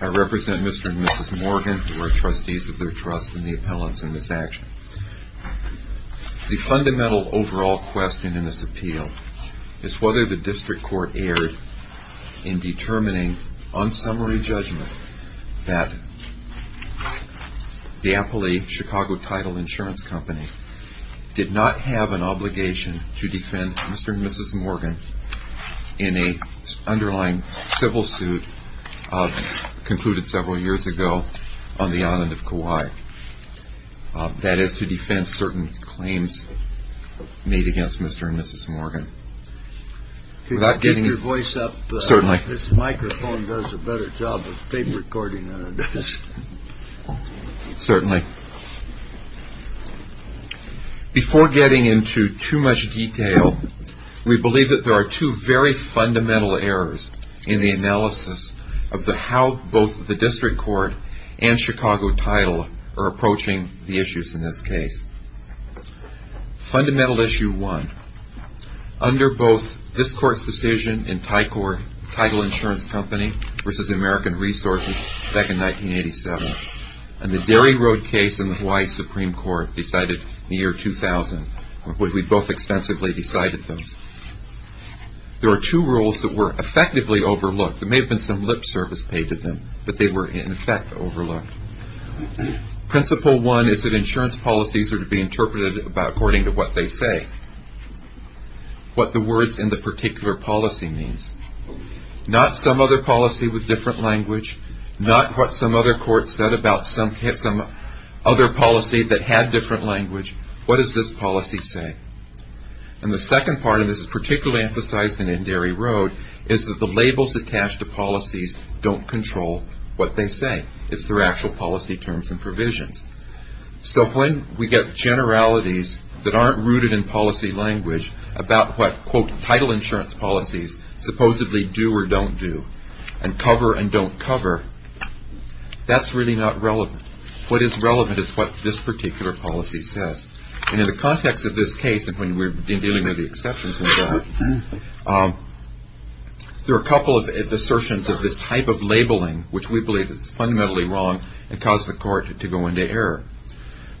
I represent Mr. and Mrs. Morgan, who are trustees of their trust in the appellants in this action. The fundamental overall question in this appeal is whether the District Court erred in determining on summary judgment that the Appley Chicago Title Insurance Company did not have an obligation to defend Mr. and Mrs. Morgan in an underlying civil suit concluded several years ago on the island of Kauai. That is, to defend certain claims made against Mr. and Mrs. Morgan. Before getting into too much detail, we believe that there are two very fundamental errors in the analysis of how both the District Court and Chicago Title are approaching the issues in this case. Fundamental issue one, under both this Court's decision in Chicago Title Insurance Company v. American Resources back in 1987 and the Derry Road case in the Hawaii Supreme Court decided in the year 2000, we both extensively decided those, there are two rules that were effectively overlooked. There may have been some lip service paid in effect overlooked. Principle one is that insurance policies are to be interpreted according to what they say. What the words in the particular policy means. Not some other policy with different language, not what some other court said about some other policy that had different language. What does this policy say? And the second part, and this is particularly emphasized in Derry Road, is that the labels attached to policies don't control what they say. It's their actual policy terms and provisions. So when we get generalities that aren't rooted in policy language about what, quote, title insurance policies supposedly do or don't do and cover and don't cover, that's really not relevant. What is relevant is what this particular policy says. And in the context of this case, and when we're dealing with the exceptions in that, there are a couple of assertions of this type of labeling which we believe is fundamentally wrong and cause the court to go into error.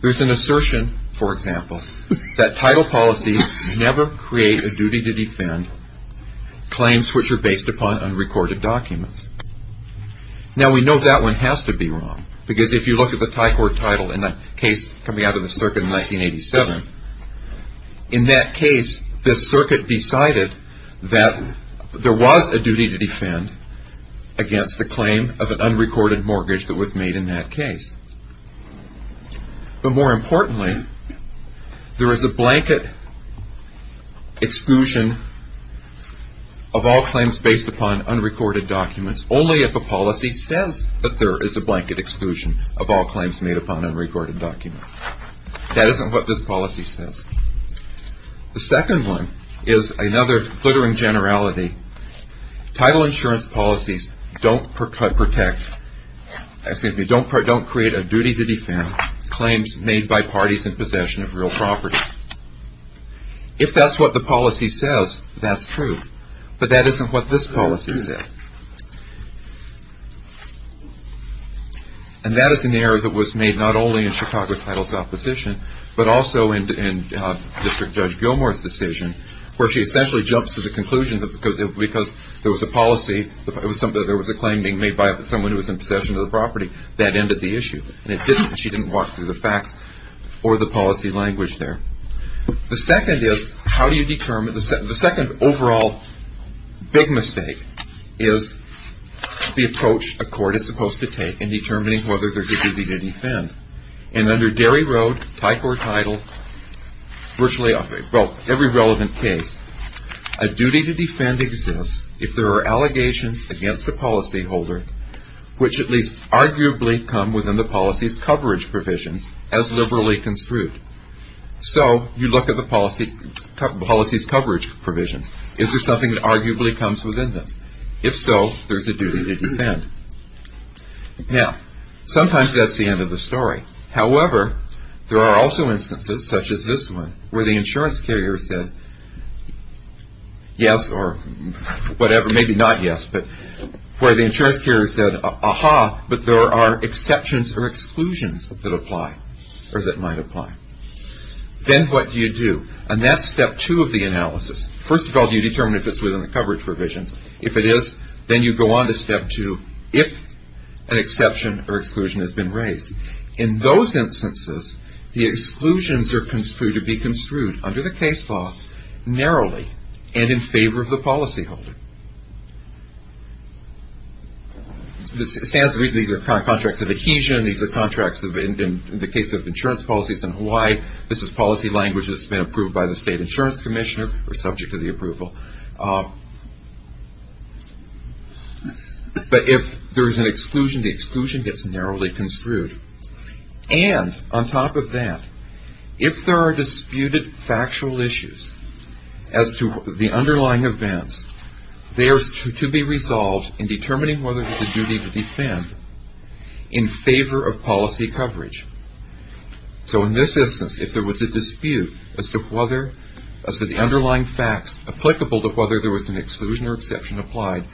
There's an assertion, for example, that title policies never create a duty to defend claims which are based upon unrecorded documents. Now we know that one has to be wrong because if you look at the this circuit decided that there was a duty to defend against the claim of an unrecorded mortgage that was made in that case. But more importantly, there is a blanket exclusion of all claims based upon unrecorded documents only if a policy says that there is a blanket exclusion of all claims made upon unrecorded documents. That isn't what this policy says. The second one is another glittering generality. Title insurance policies don't protect, excuse me, don't create a duty to defend claims made by parties in possession of real property. If that's what the policy says, that's true. But that isn't what this policy says. And that is an error that was made not only in Chicago Title's opposition but also in District Judge Gilmour's decision where she essentially jumps to the conclusion that because there was a policy, there was a claim being made by someone who was in possession of the property, that ended the issue. And she didn't walk through the facts or the policy language there. The second is how do you determine, the second overall big mistake is the approach a court is supposed to take in determining whether there is a duty to defend. And under Derry Road, Thai Court Title, virtually every relevant case, a duty to defend exists if there are allegations against the policyholder which at least arguably come within the policy's coverage provisions as liberally construed. So you look at the policy's coverage provisions. Is there something that arguably comes within them? If so, there's a duty to defend. Now, sometimes that's the end of the story. However, there are also instances such as this one where the insurance carrier said yes or whatever, maybe not yes, but where the insurance carrier said, aha, but there are exceptions or exclusions that apply or that might apply. Then what do you do? And that's step two of the analysis. First of all, do you determine if it's within the coverage provisions? If it is, then you go on to step two, if an exception or exclusion has been raised. In those instances, the exclusions are construed to be construed under the case law narrowly and in favor of the policyholder. It stands to reason these are contracts of adhesion. These are contracts of, in the case of insurance policies in Hawaii, this is policy language that's been approved by the state insurance commissioner or subject to the approval. But if there's an exclusion, the exclusion gets narrowly construed. And on top of that, if there are disputed factual issues as to the underlying events, they are to be resolved in determining whether there's a duty to defend in favor of policy coverage. So in this instance, if there was a dispute as to the underlying facts applicable to whether there was an exclusion or exception applied,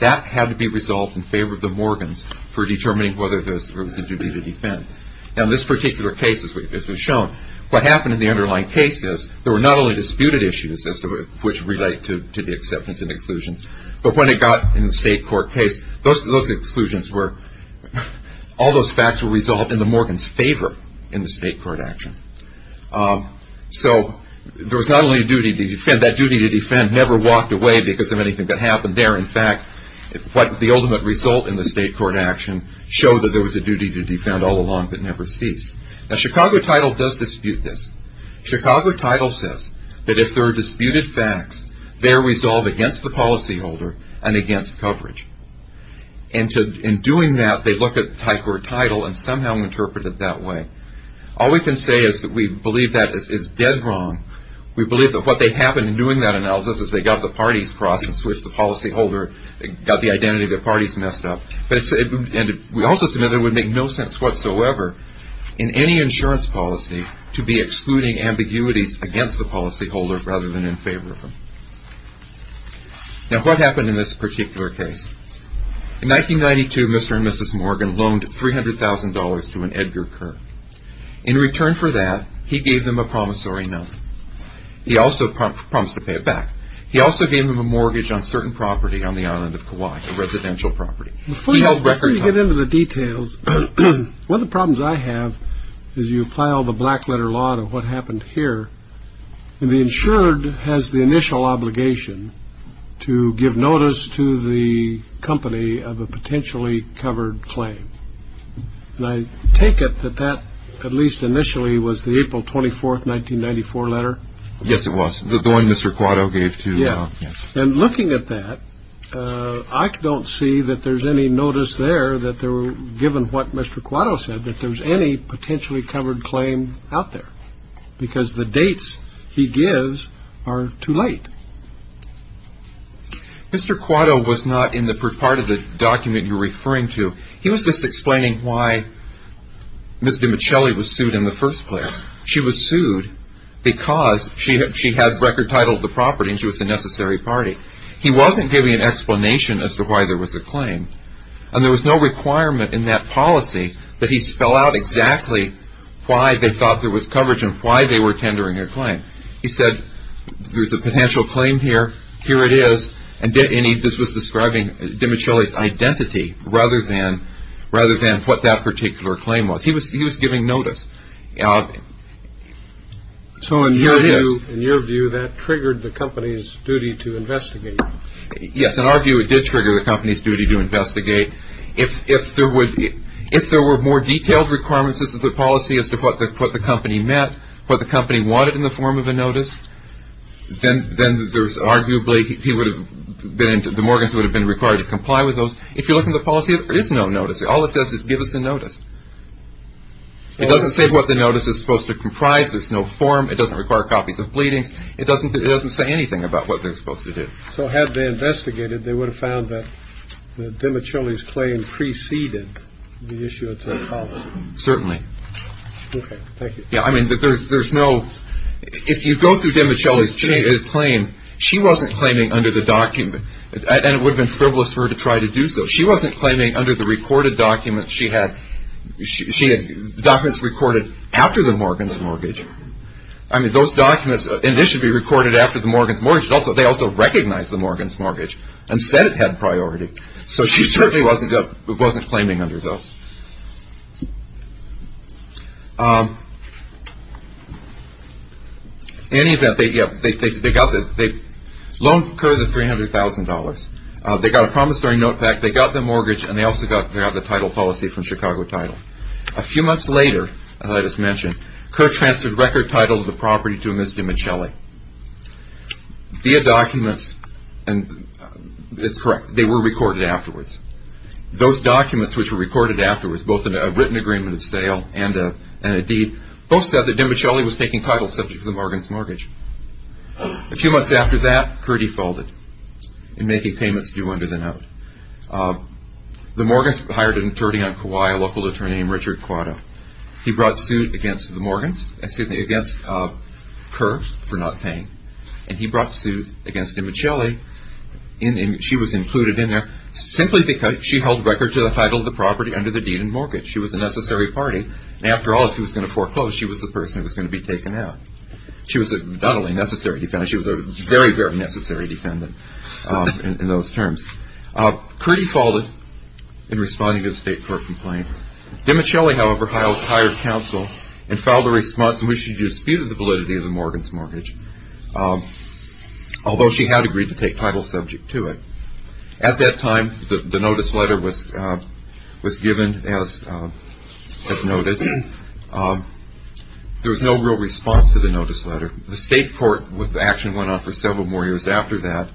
that had to be resolved in favor of the Morgans for determining whether there was a duty to defend. Now in this particular case, as we've shown, what happened in the underlying case is there were not only disputed issues as to which relate to the acceptance and exclusions, but when it got in the state court case, those exclusions were, all those facts were resolved in the Morgans' favor in the state court action. So there was not only a duty to defend, that duty to defend never walked away because of anything that happened there. In fact, what the ultimate result in the state court action showed that there was a duty to defend all along that there were disputed facts, they are resolved against the policyholder and against coverage. And in doing that, they look at the high court title and somehow interpret it that way. All we can say is that we believe that is dead wrong. We believe that what happened in doing that analysis is they got the parties crossed and switched the policyholder, got the identity of the parties messed up. And we also said that it would make no sense whatsoever in any insurance policy to be excluding ambiguities against the policyholder rather than in favor of them. Now, what happened in this particular case? In 1992, Mr. and Mrs. Morgan loaned $300,000 to an Edgar Kerr. In return for that, he gave them a promissory note. He also promised to pay it back. He also gave them a mortgage on certain property on the island of Kauai, a residential property. Before you get into the details, one of the problems I have is you apply all the black letter law to what happened here. And the insured has the initial obligation to give notice to the company of a potentially covered claim. And I take it that that at least initially was the April 24th, 1994 letter? Yes, it was. The one Mr. Quattro gave to the... Yes. And looking at that, I don't see that there's any notice there that there were, given what Mr. Quattro said, that there's any potentially covered claim out there. Because the dates he gives are too late. Mr. Quattro was not in the part of the document you're referring to. He was just explaining why Ms. DiMichele was sued in the first place. She was sued because she had record title of the property and she was a necessary party. He wasn't giving an explanation as to why there was a claim. And there was no requirement in that policy that he spell out exactly why they thought there was coverage and why they were tendering their claim. He said, there's a potential claim here. Here it is. And this was describing DiMichele's identity rather than what that particular claim was. He was giving notice. So in your view, that triggered the company's duty to investigate. Yes. In our view, it did trigger the company's duty to investigate. If there were more detailed requirements of the policy as to what the company meant, what the company wanted in the form of a notice, then there's arguably... The Morgans would have been required to comply with those. If you look in the policy, there is no notice. All it says is, give us a notice. It doesn't say what the notice is supposed to comprise. There's no form. It doesn't require copies of pleadings. It doesn't say anything about what they're supposed to do. So had they investigated, they would have found that DiMichele's claim preceded the issue of the policy. Certainly. Okay. Thank you. Yeah. I mean, there's no... If you go through DiMichele's claim, she wasn't claiming under the document. And it would have been frivolous for her to try to do so. She wasn't claiming under the recorded documents she had. She had documents recorded after the Morgans' mortgage. I mean, those documents, and this should be recorded after the Morgans' mortgage. They also recognized the Morgans' mortgage and said it had priority. So she certainly wasn't claiming under those. In any event, they got the... The loan occurred at $300,000. They got a promissory note back. They got the mortgage, and they also got the title policy from Chicago Title. A few months later, as I just mentioned, Kerr transferred record title of the property to Ms. DiMichele via documents, and it's correct. They were recorded afterwards. Those documents which were recorded afterwards, both a written agreement of sale and a deed, both said that DiMichele was taking title subject to the Morgans' mortgage. A few months after that, Kerr defaulted in making payments due under the note. The Morgans' hired an attorney on Kauai, a local attorney named Richard Quado. He brought suit against the Morgans, excuse me, against Kerr for not paying, and he brought suit against DiMichele. She was included in there simply because she held record title of the property under the deed and mortgage. She was a necessary party. And after all, if she was going to foreclose, she was the person who was going to be taken out. She was not only a necessary defendant, she was a very, very necessary defendant in those terms. Kerr defaulted in responding to the state court complaint. DiMichele, however, hired counsel and filed a response in which she disputed the validity of the Morgans' mortgage, although she had agreed to take title subject to it. At that time, the notice letter was given as noted, and the Morgans there was no real response to the notice letter. The state court action went on for several more years after that.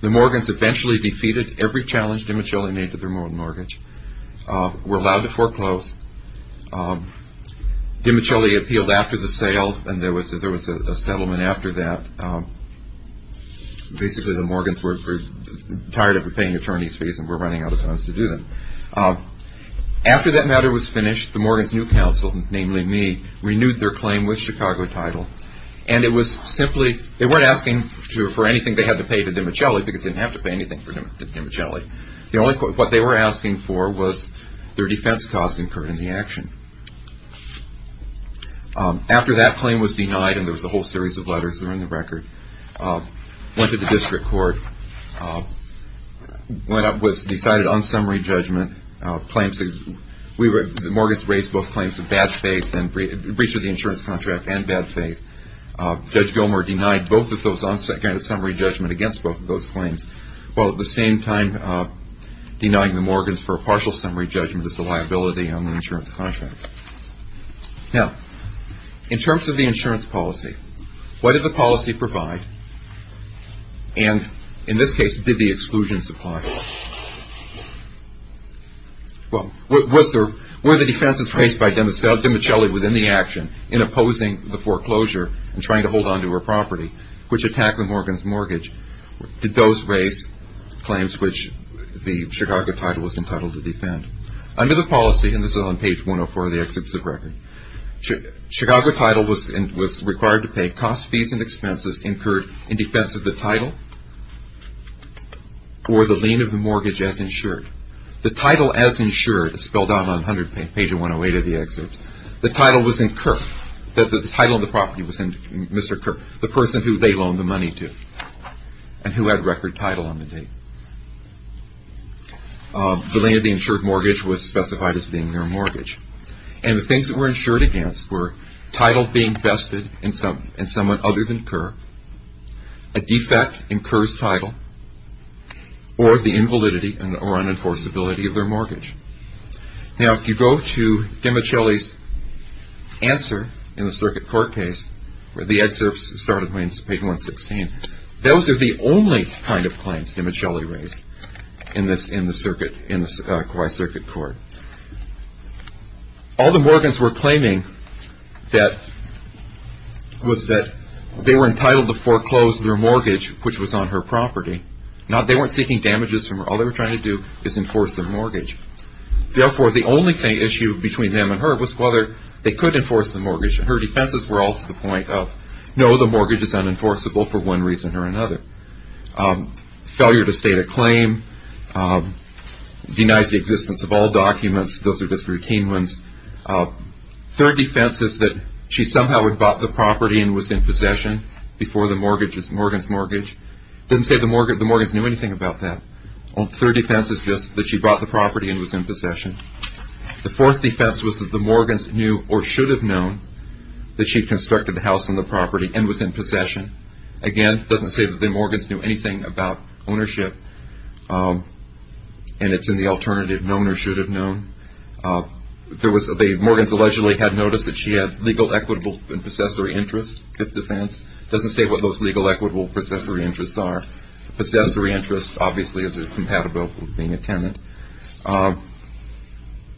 The Morgans eventually defeated every challenge DiMichele made to their mortgage, were allowed to foreclose. DiMichele appealed after the sale, and there was a settlement after that. Basically, the Morgans were tired of repaying attorney's fees and were running out of funds to do that. After that matter was finished, the Morgans' new counsel, namely me, renewed their claim with Chicago title. They weren't asking for anything they had to pay to DiMichele, because they didn't have to pay anything to DiMichele. What they were asking for was their defense costs incurred in the action. After that claim was denied, and there was a whole series of letters that are in the record, went to the district court, went up with a decided unsummary judgment, claims that the Morgans raised both claims of bad faith and breach of the insurance contract and bad faith. Judge Gilmer denied both of those unsummary judgments against both of those claims, while at the same time denying the Morgans for a partial summary judgment as a liability on the insurance contract. In terms of the insurance policy, what did the policy provide? In this case, did the defense in place by DiMichele within the action in opposing the foreclosure and trying to hold on to her property, which attacked the Morgans' mortgage, did those raise claims which the Chicago title was entitled to defend? Under the policy, and this is on page 104 of the executive record, Chicago title was required to pay cost fees and expenses incurred in defense of the title or the lien of the mortgage as insured. The title as insured is spelled out on 100 page 108 of the excerpt. The title was incurred. The title of the property was Mr. Kerr, the person who they loaned the money to and who had record title on the date. The lien of the insured mortgage was specified as being their mortgage. And the things that were insured against were title being vested in someone other than Kerr, a defect in Kerr's title, or the invalidity or unenforceability of their mortgage. Now, if you go to DiMichele's answer in the circuit court case, where the excerpts started on page 116, those are the only kind of claims DiMichele raised in the circuit court. All the Morgans were claiming that they were entitled to foreclose their mortgage, which was on her property. Now, they weren't seeking damages from her. All they were trying to do was enforce their mortgage. Therefore, the only issue between them and her was whether they could enforce the mortgage. Her defenses were all to the point of, no, the mortgage is unenforceable for one reason or another. Failure to state a claim denies the existence of all documents. Those are defenses that she somehow had bought the property and was in possession before the mortgage is Morgan's mortgage. Didn't say the Morgans knew anything about that. Third defense is just that she bought the property and was in possession. The fourth defense was that the Morgans knew or should have known that she constructed the house and the property and was in possession. Again, doesn't say that the Morgans knew anything about ownership. And it's in the alternative, known or should have known. The Morgans allegedly had noticed that she had legal, equitable, and possessory interest. Fifth defense, doesn't say what those legal, equitable, and possessory interests are. Possessory interest, obviously, is compatible with being a tenant.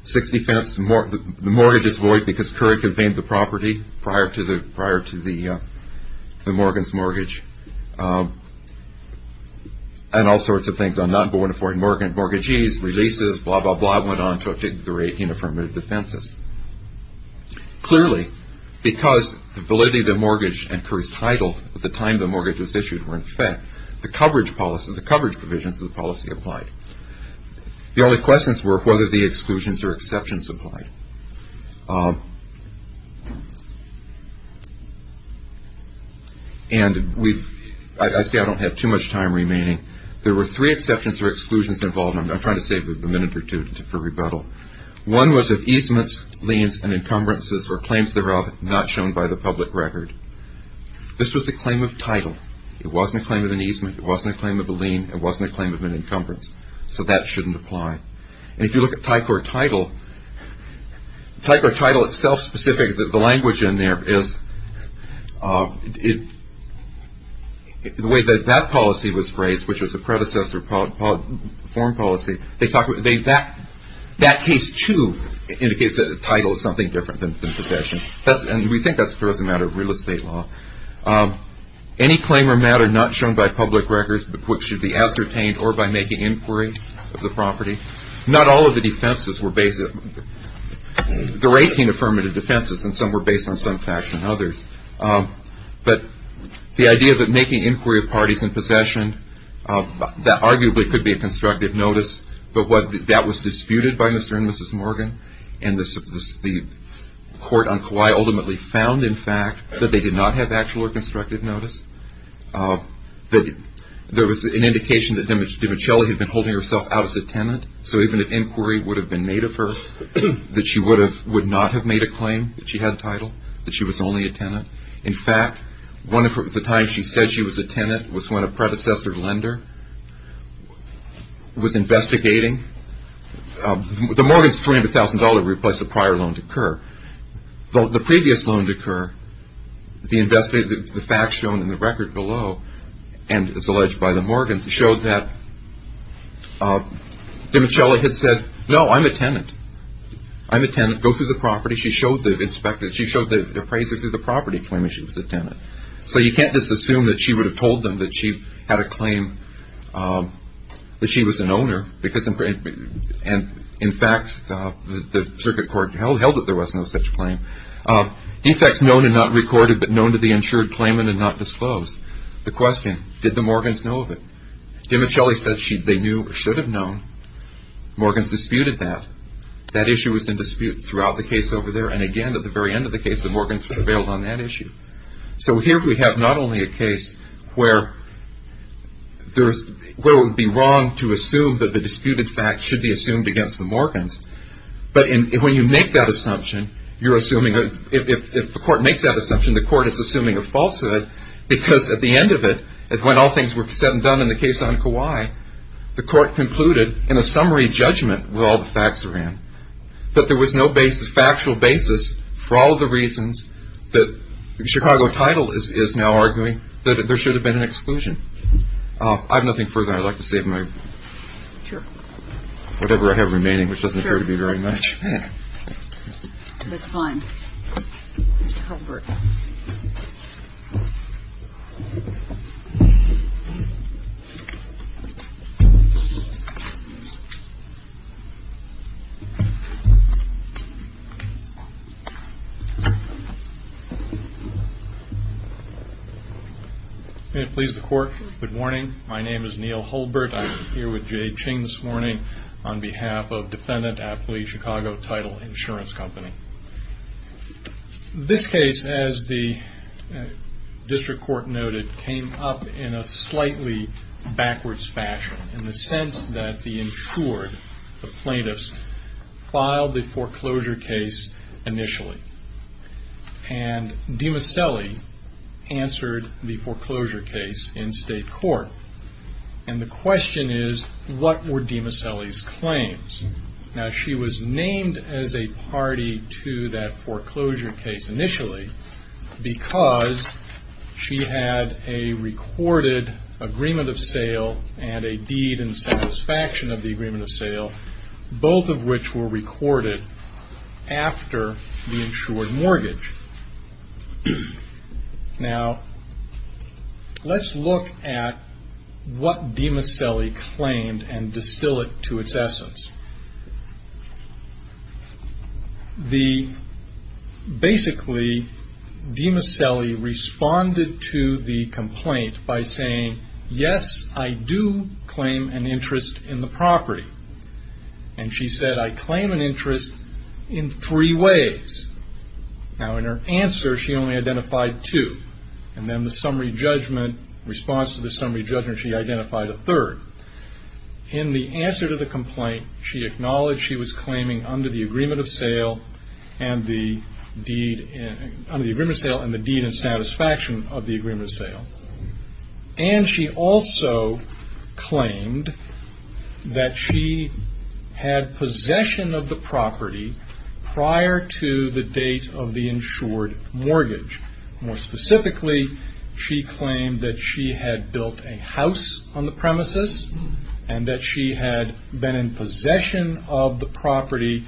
Sixth defense, the mortgage is void because Currie conveyed the property prior to the Morgan's mortgage and all sorts of things. I'm not going to afford mortgagees, releases, blah, blah, blah, went on to 18 affirmative defenses. Clearly, because the validity of the mortgage and Currie's title at the time the mortgage was issued were in effect, the coverage provisions of the policy applied. The only questions were whether the mortgage was valid. And I say I don't have too much time remaining. There were three exceptions or exclusions involved. I'm trying to save a minute or two for rebuttal. One was of easements, liens, and encumbrances or claims thereof not shown by the public record. This was a claim of title. It wasn't a claim of an easement. It wasn't a claim of a lien. It wasn't a claim of an encumbrance. So that shouldn't apply. And if you look at the title itself specific, the language in there is the way that that policy was phrased, which was a predecessor form policy, that case, too, indicates that the title is something different than possession. And we think that's a matter of real estate law. Any claim or matter not shown by public records which should be ascertained or by making inquiry of the There were 18 affirmative defenses, and some were based on some facts and others. But the idea that making inquiry of parties in possession, that arguably could be a constructive notice, but that was disputed by Mr. and Mrs. Morgan, and the court on Kauai ultimately found, in fact, that they did not have actual or constructive notice, that there was an indication that Demichelli had been holding herself out as a tenant. So even if inquiry would have been made of her, that she would not have made a claim that she had a title, that she was only a tenant. In fact, the time she said she was a tenant was when a predecessor lender was investigating. The Morgans' $300,000 would replace a prior loan to Kerr. The previous loan to Kerr, the facts shown in the record below, and as alleged by the Morgans, showed that Demichelli had said, no, I'm a tenant. I'm a tenant. Go through the property. She showed the inspector, she showed the appraiser through the property claim that she was a tenant. So you can't just assume that she would have told them that she had a claim that she was an owner, because in fact, the circuit court held that there was no such claim. Defects known and not recorded, but known to the insured claimant and not disclosed. The question, did the Morgans know of it? Demichelli said they knew or should have known. Morgans disputed that. That issue was in dispute throughout the case over there, and again, at the very end of the case, the Morgans prevailed on that issue. So here we have not only a case where it would be wrong to assume that the disputed fact should be assumed against the Morgans, but when you make that assumption, you're assuming, if the court makes that assumption, the court is assuming a falsehood, because at the end of it, when all things were said and done in the case on Kauai, the court concluded in a summary judgment where all the facts are in, that there was no factual basis for all of the reasons that Chicago Title is now arguing that there should have been an exclusion. I have nothing further I'd like to say. I'm going to take my, whatever I have remaining, which doesn't appear to be very much. That's fine. Mr. Hulbert. May it please the Court, good morning. My name is Neil Hulbert. I'm here on behalf of the Chicago Title Insurance Company. This case, as the district court noted, came up in a slightly backwards fashion, in the sense that the insured, the plaintiffs, filed the foreclosure case initially, and DiMasselli answered the foreclosure case in state court, and the question is, what were DiMasselli's claims? She was named as a party to that foreclosure case initially, because she had a recorded agreement of sale, and a deed in satisfaction of the agreement of sale, both of which were recorded after the insured mortgage. Now, let's look at what DiMasselli claimed, and distill it to its essence. The, basically, DiMasselli responded to the complaint by saying, yes, I do claim an interest in the property. And she said, I claim an interest in three ways. Now, in her answer, she only identified two, and then the summary judgment, response to the summary judgment, she identified a third. In the answer to the complaint, she acknowledged she was claiming under the agreement of sale, and the deed, under the agreement of sale, and the deed in satisfaction of the mortgage, that she had possession of the property prior to the date of the insured mortgage. More specifically, she claimed that she had built a house on the premises, and that she had been in possession of the property,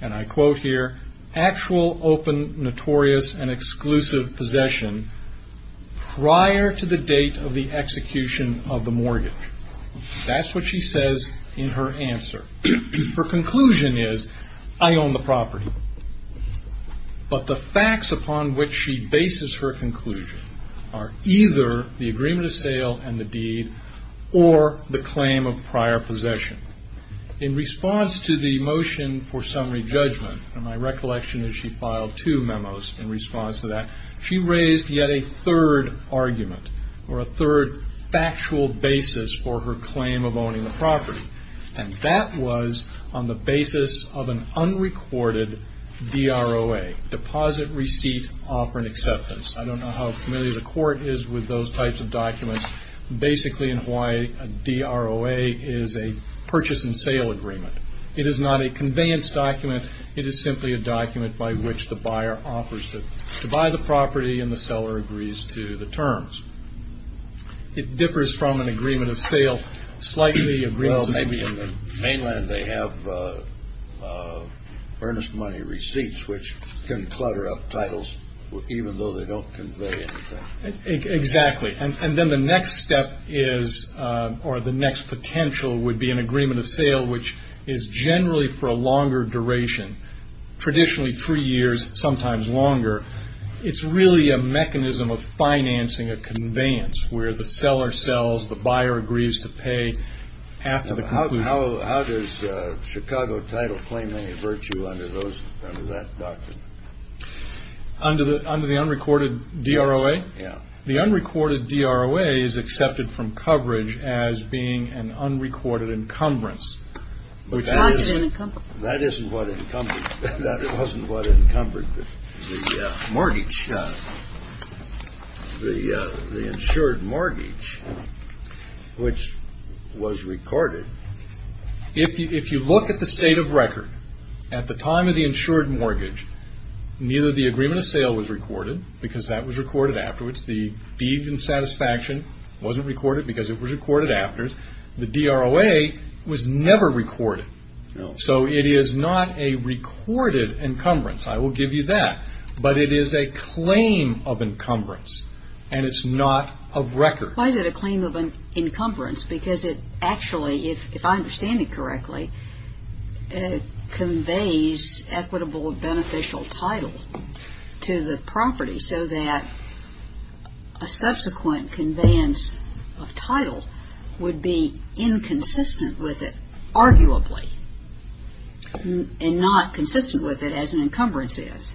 and I quote here, actual, open, notorious, and exclusive possession prior to the date of the execution of the mortgage. That's what she says in her answer. Her conclusion is, I own the property. But the facts upon which she bases her conclusion are either the agreement of sale and the deed, or the claim of prior possession. In response to the motion for summary judgment, and my recollection is she filed two memos in response to that, she raised yet a third argument, or a third factual basis for her claim of owning the property, and that was on the basis of an unrecorded DROA, deposit receipt offer and acceptance. I don't know how familiar the court is with those types of documents. Basically, in Hawaii, a DROA is a purchase and sale agreement. It is not a conveyance document. It is simply a document by which the buyer offers to buy the property, and the seller agrees to the terms. It differs from an agreement of sale slightly, agreed to. Well, maybe in the mainland they have earnest money receipts, which can clutter up titles even though they don't convey anything. Exactly. And then the next step is, or the next potential would be an agreement of sale, which is generally for a longer duration, traditionally three years, sometimes longer. It's really a mechanism of financing a conveyance, where the seller sells, the buyer agrees to pay, after the conclusion. How does Chicago title claim any virtue under that document? Under the unrecorded DROA? Yeah. The unrecorded DROA is accepted from coverage as being an unrecorded encumbrance. That wasn't what encumbered the mortgage, the insured mortgage, which was recorded. If you look at the state of record, at the time of the insured mortgage, neither the deed in satisfaction wasn't recorded because it was recorded after. The DROA was never recorded. So it is not a recorded encumbrance, I will give you that. But it is a claim of encumbrance, and it's not of record. Why is it a claim of encumbrance? Because it actually, if I understand it correctly, it conveys equitable beneficial title to the property, so that a subsequent conveyance of title would be inconsistent with it, arguably, and not consistent with it as an encumbrance is.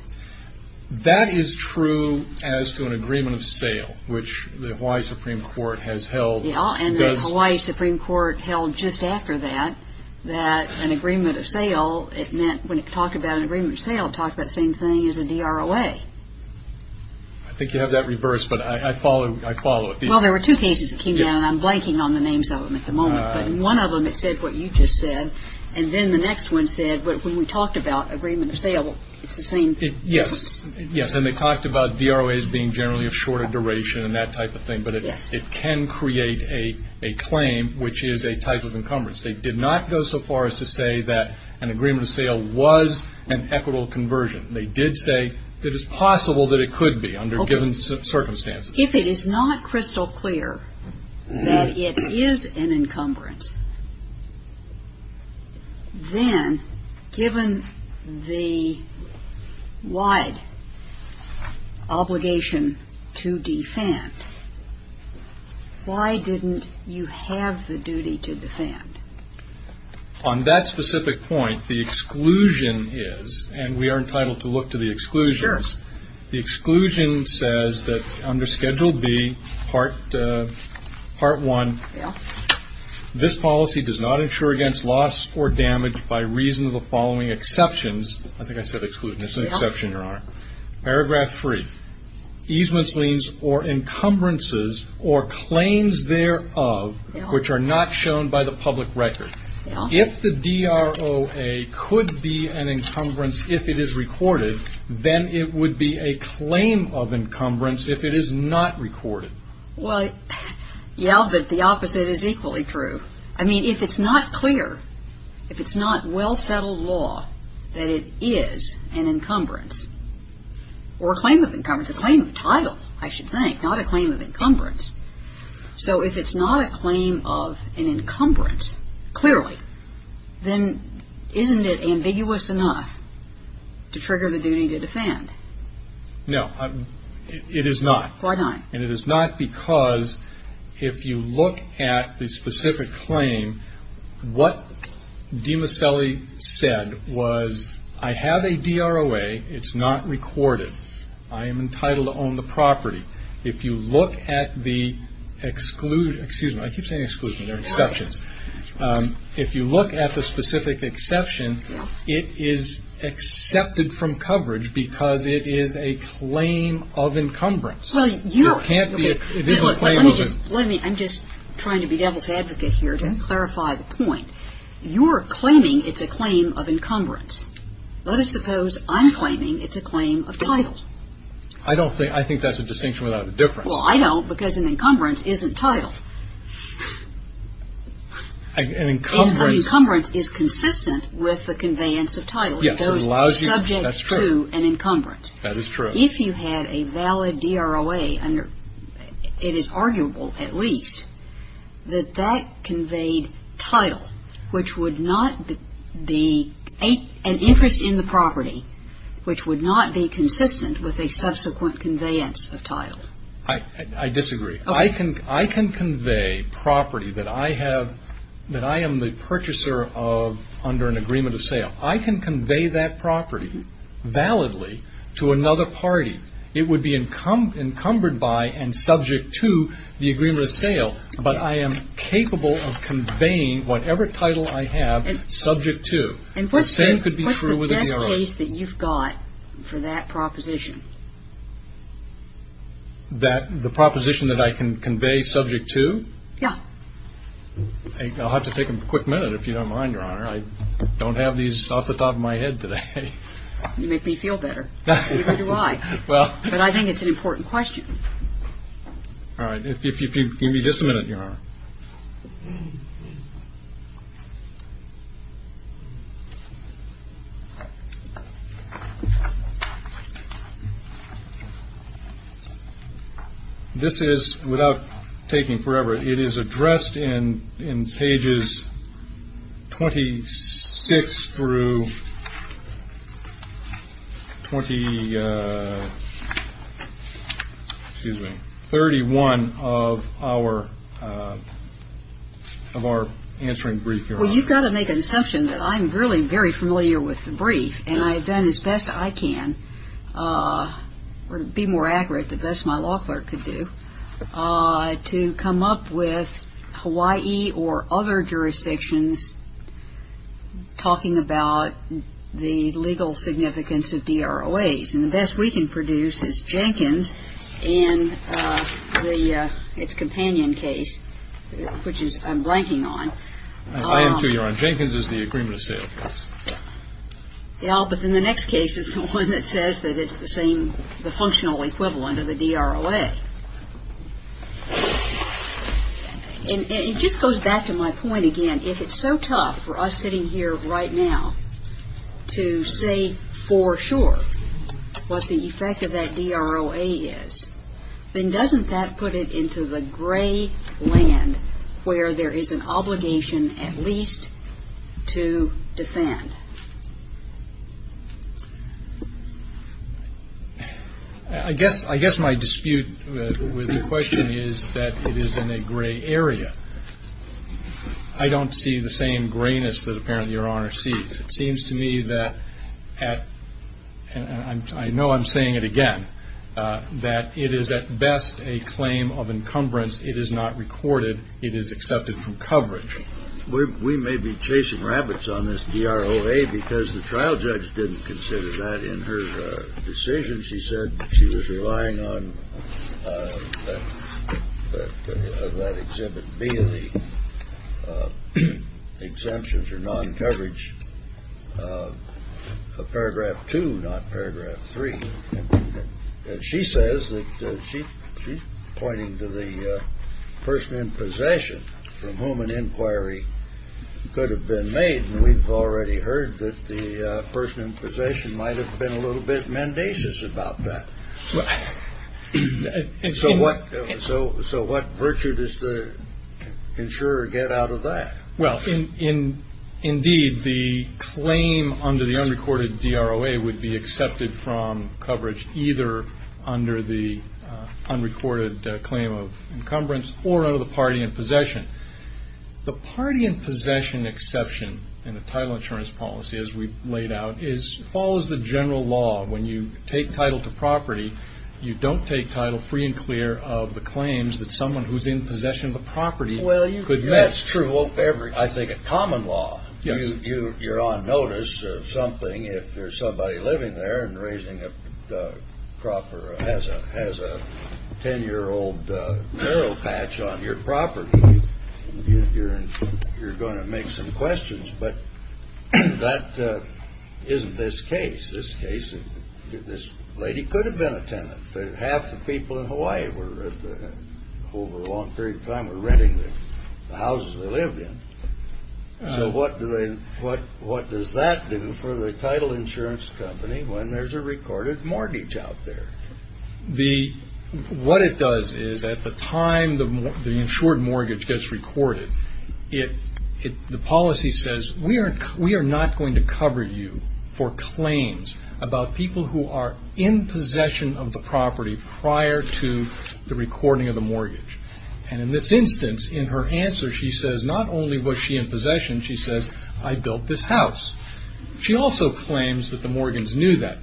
That is true as to an agreement of sale, which the Hawaii Supreme Court has held. And the Hawaii Supreme Court held just after that, that an agreement of sale, it meant when it talked about an agreement of sale, it talked about the same thing as a DROA. I think you have that reversed, but I follow it. Well, there were two cases that came down, and I'm blanking on the names of them at the moment, but in one of them, it said what you just said, and then the next one said, when we talked about agreement of sale, it's the same. Yes, and they talked about DROAs being generally of shorter duration and that type of thing, but it can create a claim which is a type of encumbrance. They did not go so far as to say that an agreement of sale was an equitable conversion. They did say that it's possible that it could be under given circumstances. If it is not crystal clear that it is an encumbrance, then given the wide obligation to defend, why didn't you have the duty to defend? On that specific point, the exclusion is, and we are entitled to look to the exclusions, the exclusion says that under Schedule B Part 1, this policy does not insure against loss or damage by reason of the following exceptions. I think I said exclusion. It's an exception, Your Honor. Paragraph 3, easements, liens, or encumbrances or claims thereof which are not shown by the public record. If the DROA could be an encumbrance if it is recorded, then it would be a claim of encumbrance if it is not recorded. Well, yeah, but the opposite is equally true. I mean, if it's not clear, if it's not well settled law that it is an encumbrance or a claim of encumbrance, a claim of title, I should think, not a claim of encumbrance. So if it's not a claim of an encumbrance, clearly, then isn't it ambiguous enough to trigger the duty to defend? It is not. Why not? And it is not because if you look at the specific claim, what Demoselli says is that it's said was, I have a DROA. It's not recorded. I am entitled to own the property. If you look at the exclusion, excuse me, I keep saying exclusion. They're exceptions. If you look at the specific exception, it is accepted from coverage because it is a claim of encumbrance. Well, you're It can't be a claim of an Let me, I'm just trying to be Demoselli's advocate here to clarify the point. You're claiming it's a claim of encumbrance. Let us suppose I'm claiming it's a claim of title. I don't think, I think that's a distinction without a difference. Well, I don't because an encumbrance isn't title. An encumbrance An encumbrance is consistent with the conveyance of title. Yes, it allows you It goes subject to an encumbrance. That's true. That is true. If you had a valid DROA under, it is arguable at least, that that conveyed title, which would not be an interest in the property, which would not be consistent with a subsequent conveyance of title. I disagree. I can convey property that I have, that I am the purchaser of under an agreement of sale. I can convey that property validly to another party. It would be encumbered by and subject to the agreement of sale, but I am capable of conveying whatever title I have subject to. And what's the best case that you've got for that proposition? The proposition that I can convey subject to? Yeah. I'll have to take a quick minute if you don't mind, Your Honor. I don't have these off the top of my head today. You make me feel better. Neither do I. But I think it's an important question. All right. If you give me just a minute, Your Honor. All right. This is, without taking forever, it is addressed in pages 26 through 30, excuse me, 31 of our answering brief, Your Honor. Well, you've got to make an assumption that I'm really very familiar with the brief, and I've done as best I can, or to be more accurate, the best my law clerk could do, to come up with Hawaii or other jurisdictions talking about the legal significance of DROAs. And the best we can produce is Jenkins and its companion case, which is the one that I'm ranking on. I am, too, Your Honor. Jenkins is the agreement of sale case. Yeah, but then the next case is the one that says that it's the same, the functional equivalent of a DROA. And it just goes back to my point again. If it's so tough for us sitting here right now to say for sure what the effect of that DROA is, then doesn't that put it into the gray land where there is an obligation at least to defend? I guess my dispute with your question is that it is in a gray area. I don't see the same grayness that apparently Your Honor sees. It seems to me that, and I know I'm saying it again, that it is at best a claim of encumbrance. It is not recorded. It is accepted from coverage. We may be chasing rabbits on this DROA because the trial judge didn't consider that in her decision. She said she was relying on that Exhibit B, the exemption for non-coverage of Paragraph 2, not Paragraph 3. And she says that she's pointing to the person in possession from whom an inquiry could have been made. And we've already heard that the person in possession might have been a little bit mendacious about that. So what virtue does the insurer get out of that? Indeed, the claim under the unrecorded DROA would be accepted from coverage either under the unrecorded claim of encumbrance or under the party in possession. The party in possession exception in the title insurance policy, as we've laid out, follows the general law. When you take title to property, you don't take title free and clear of the claims that someone has. That's true, I think, of common law. You're on notice of something if there's somebody living there and has a ten-year-old narrow patch on your property. You're going to make some questions. But that isn't this case. This lady could have been a tenant. Half the people in Hawaii over a long period of time were renting the houses they lived in. So what does that do for the title insurance company when there's a recorded mortgage out there? What it does is at the time the insured mortgage gets recorded, the policy says we are not going to cover you for claims about people who are in possession of the property prior to the recording of the mortgage. In this instance, in her answer, she says not only was she in possession, she says, I built this house. She also claims that the Morgans knew that.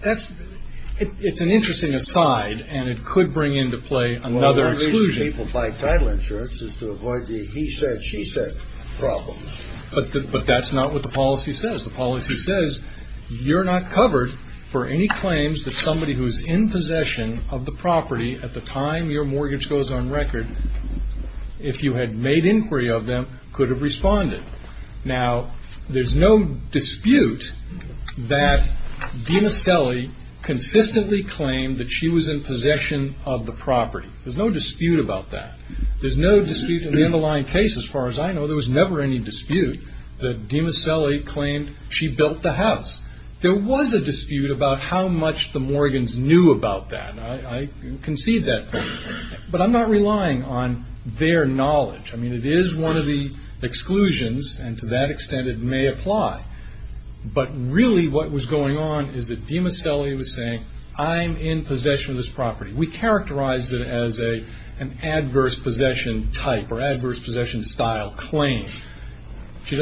It's an interesting aside, and it could bring into play another exclusion. Well, the reason people buy title insurance is to avoid the he said, she said problems. But that's not what the policy says. The policy says you're not covered for any claims that somebody who's in possession of the property at the time your mortgage goes on record, if you had made inquiry of them, could have responded. Now, there's no dispute that Dina Selly consistently claimed that she was in possession of the property. There's no dispute about that. There's no dispute in the underlying case as far as I know, there was never any dispute that Dina Selly claimed she built the house. There was a dispute about how much the Morgans knew about that. I concede that. But I'm not relying on their knowledge. I mean, it is one of the exclusions, and to that extent it may apply. But really what was going on is that Dina Selly was saying, I'm in possession of this claim.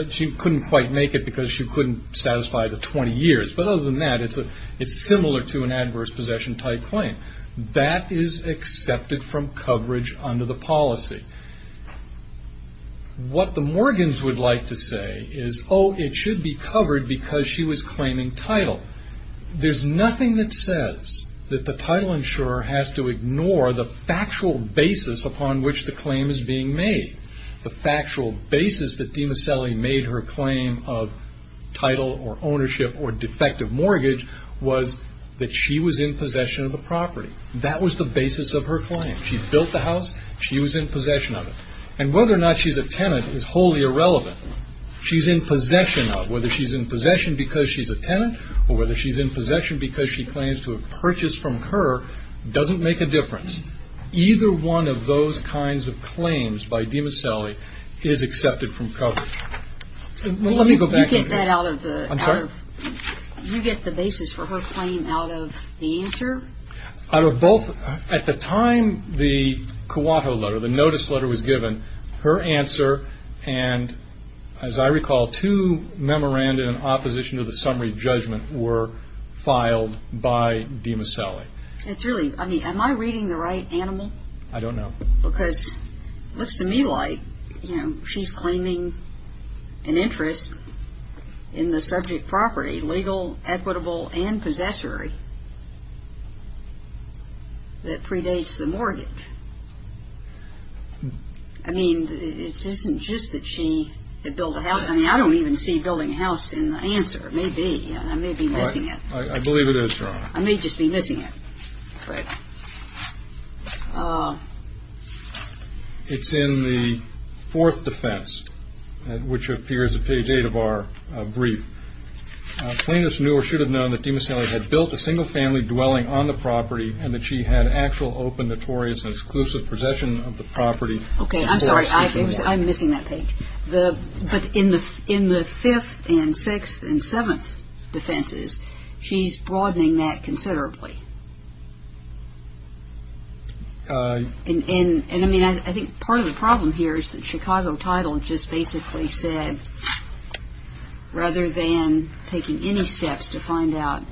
She couldn't quite make it because she couldn't satisfy the 20 years. But other than that, it's similar to an adverse possession type claim. That is accepted from coverage under the policy. What the Morgans would like to say is, oh, it should be covered because she was claiming title. There's nothing that says that the title insurer has to ignore the factual basis upon which the claim is being made. The factual basis that Dina Selly made her claim of title or ownership or defective mortgage was that she was in possession of the property. That was the basis of her claim. She built the house. She was in possession of it. And whether or not she's a tenant is wholly irrelevant. She's in possession of. Whether she's in possession because she's a tenant or whether she's in possession because she claims to have purchased from her doesn't make a difference. Either one of those kinds of claims by Dina Selly is accepted from coverage. Let me go back. You get the basis for her claim out of the answer? At the time the notice letter was given, her answer and, as I recall, two memoranda in the notice letter. It's really, I mean, am I reading the right animal? I don't know. Because it looks to me like, you know, she's claiming an interest in the subject property, legal, equitable, and possessory that predates the mortgage. I mean, it isn't just that she had built a house. I mean, I don't even see building a house in the answer. It may be. I believe it is, Your Honor. I may just be missing it. It's in the fourth defense, which appears at page eight of our brief. Plaintiff's knew or should have known that Dina Selly had built a single family dwelling on the property and that she had actual, open, notorious, and exclusive possession of the property. Okay. I'm sorry. I'm missing that page. But in the fifth and sixth and seventh defenses, she's broadening that considerably. And, I mean, I think part of the problem here is that Chicago title just basically said, rather than taking any steps to find out.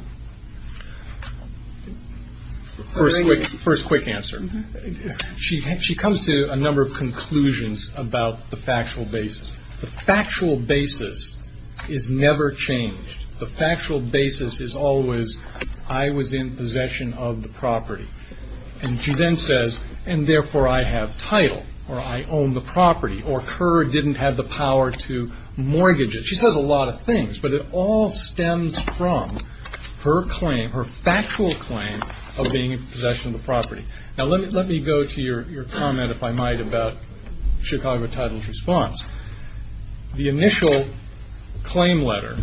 First quick answer. She comes to a number of conclusions about the factual basis. The factual basis is always, I was in possession of the property. And she then says, and therefore I have title, or I own the property, or Kerr didn't have the power to mortgage it. She says a lot of things, but it all stems from her claim, her factual claim, of being in possession of the property. Now let me go to your comment, if I might, about Chicago title's response. The initial claim letter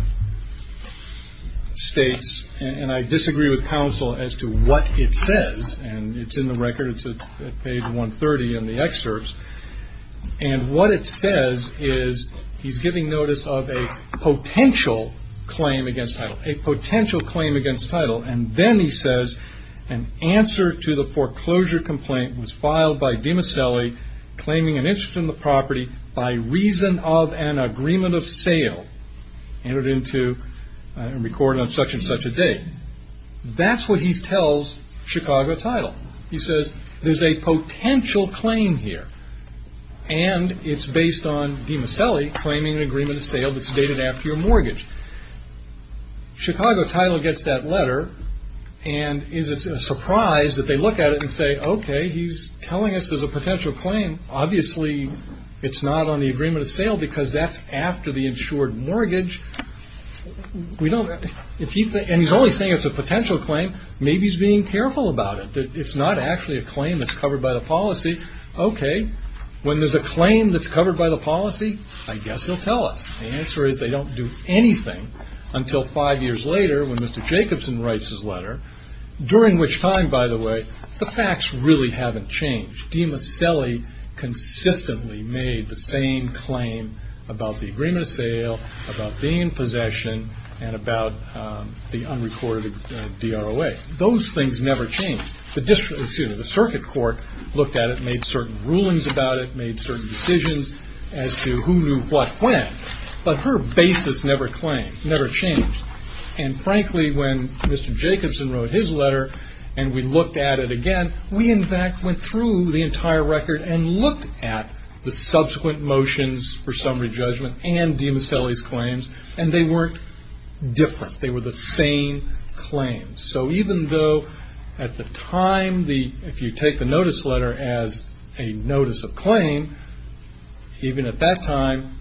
states, and I disagree with counsel as to what it says, and it's in the record. It's at page 130 in the excerpts. And what it says is, he's giving notice of a potential claim against title. A potential claim against title. And then he says, an answer to the foreclosure complaint was filed by Dina Selly, claiming an interest in the property by reason of an agreement of sale. Entered into, recorded on such and such a date. That's what he tells Chicago title. He says, there's a potential claim here. And it's based on Dina Selly claiming an agreement of sale that's dated after your mortgage. Chicago title gets that letter, and is it a surprise that they look at it and say, okay, he's telling us there's a potential claim. Obviously it's not on the agreement of sale because that's after the insured mortgage. And he's only saying it's a potential claim. Maybe he's being careful about it. That it's not actually a claim that's covered by the policy. Okay, when there's a claim that's covered by the policy, I guess he'll tell us. The answer is they don't do anything until five years later when Mr. Jacobson writes his letter. During which time, by the way, the facts really haven't changed. Dina Selly consistently made the same claim about the agreement of sale, about being in possession, and about the unrecorded DROA. Those things never changed. The circuit court looked at it and made certain rulings about it, made certain decisions as to who knew what when. But her basis never changed. And frankly, when Mr. Jacobson wrote his letter and we looked at it again, we in fact went through the entire record and looked at the subsequent motions for summary judgment and Dina Selly's claims, and they weren't different. They were the same claims. So even though at the time, if you take the notice letter as a notice of claim, even at that time,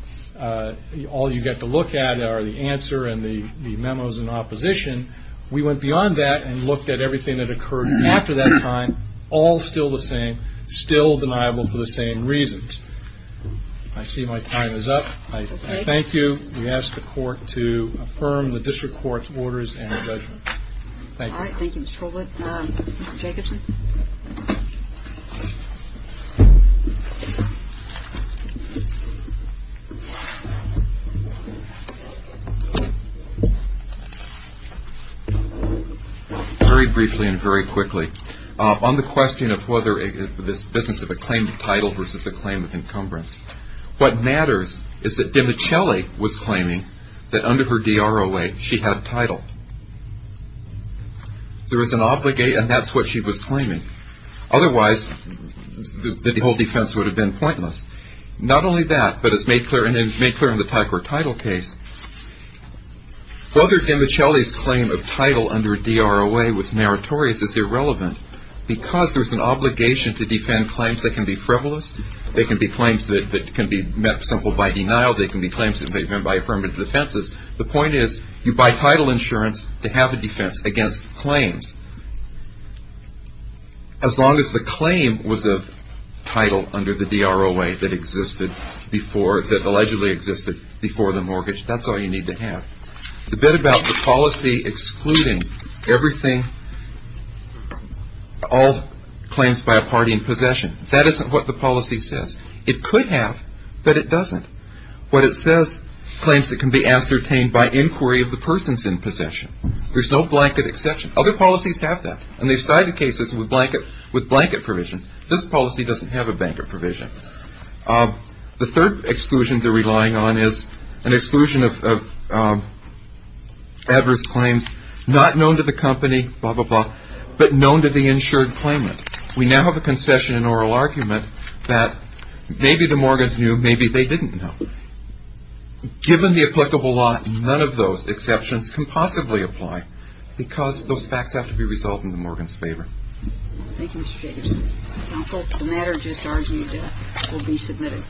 all you get to look at are the answer and the memos in opposition. We went beyond that and looked at everything that occurred after that time, all still the same, still deniable for the same reasons. I see my time is up. I thank you. We ask the court to affirm the district court's orders and the judgment. Thank you. All right. Thank you, Mr. Follett. Mr. Jacobson? Very briefly and very quickly. On the question of whether this business of a claim of title versus a claim of encumbrance, what matters is that Dina Selly was claiming that under her DROA, she had title. There was an obligate, and that's what she was claiming. Otherwise, the whole defense would have been pointless. Not only that, but as made clear in the Tigard title case, whether Dina Selly's claim of title under DROA was meritorious is irrelevant because there's an obligation to defend claims that can be frivolous, that can be claims that can be met simple by denial, that can be claims that can be met by affirmative defenses. The point is, you buy title insurance to have a defense against claims. As long as the claim was a title under the DROA that existed before, that allegedly existed before the mortgage, that's all you need to have. The bit about the policy excluding everything, all claims by a party in possession, that isn't what the policy says. It could have, but it doesn't. What it says, claims that can be ascertained by inquiry of the persons in possession. There's no blanket exception. Other policies have that, and they've cited cases with blanket provisions. This policy doesn't have a blanket provision. The third exclusion they're relying on is an exclusion of adverse claims not known to the insured claimant. We now have a concession in oral argument that maybe the Morgans knew, maybe they didn't know. Given the applicable law, none of those exceptions can possibly apply because those facts have to be resolved in the Morgan's favor. Thank you, Mr. Jacobson. Counsel, the matter just argued will be submitted.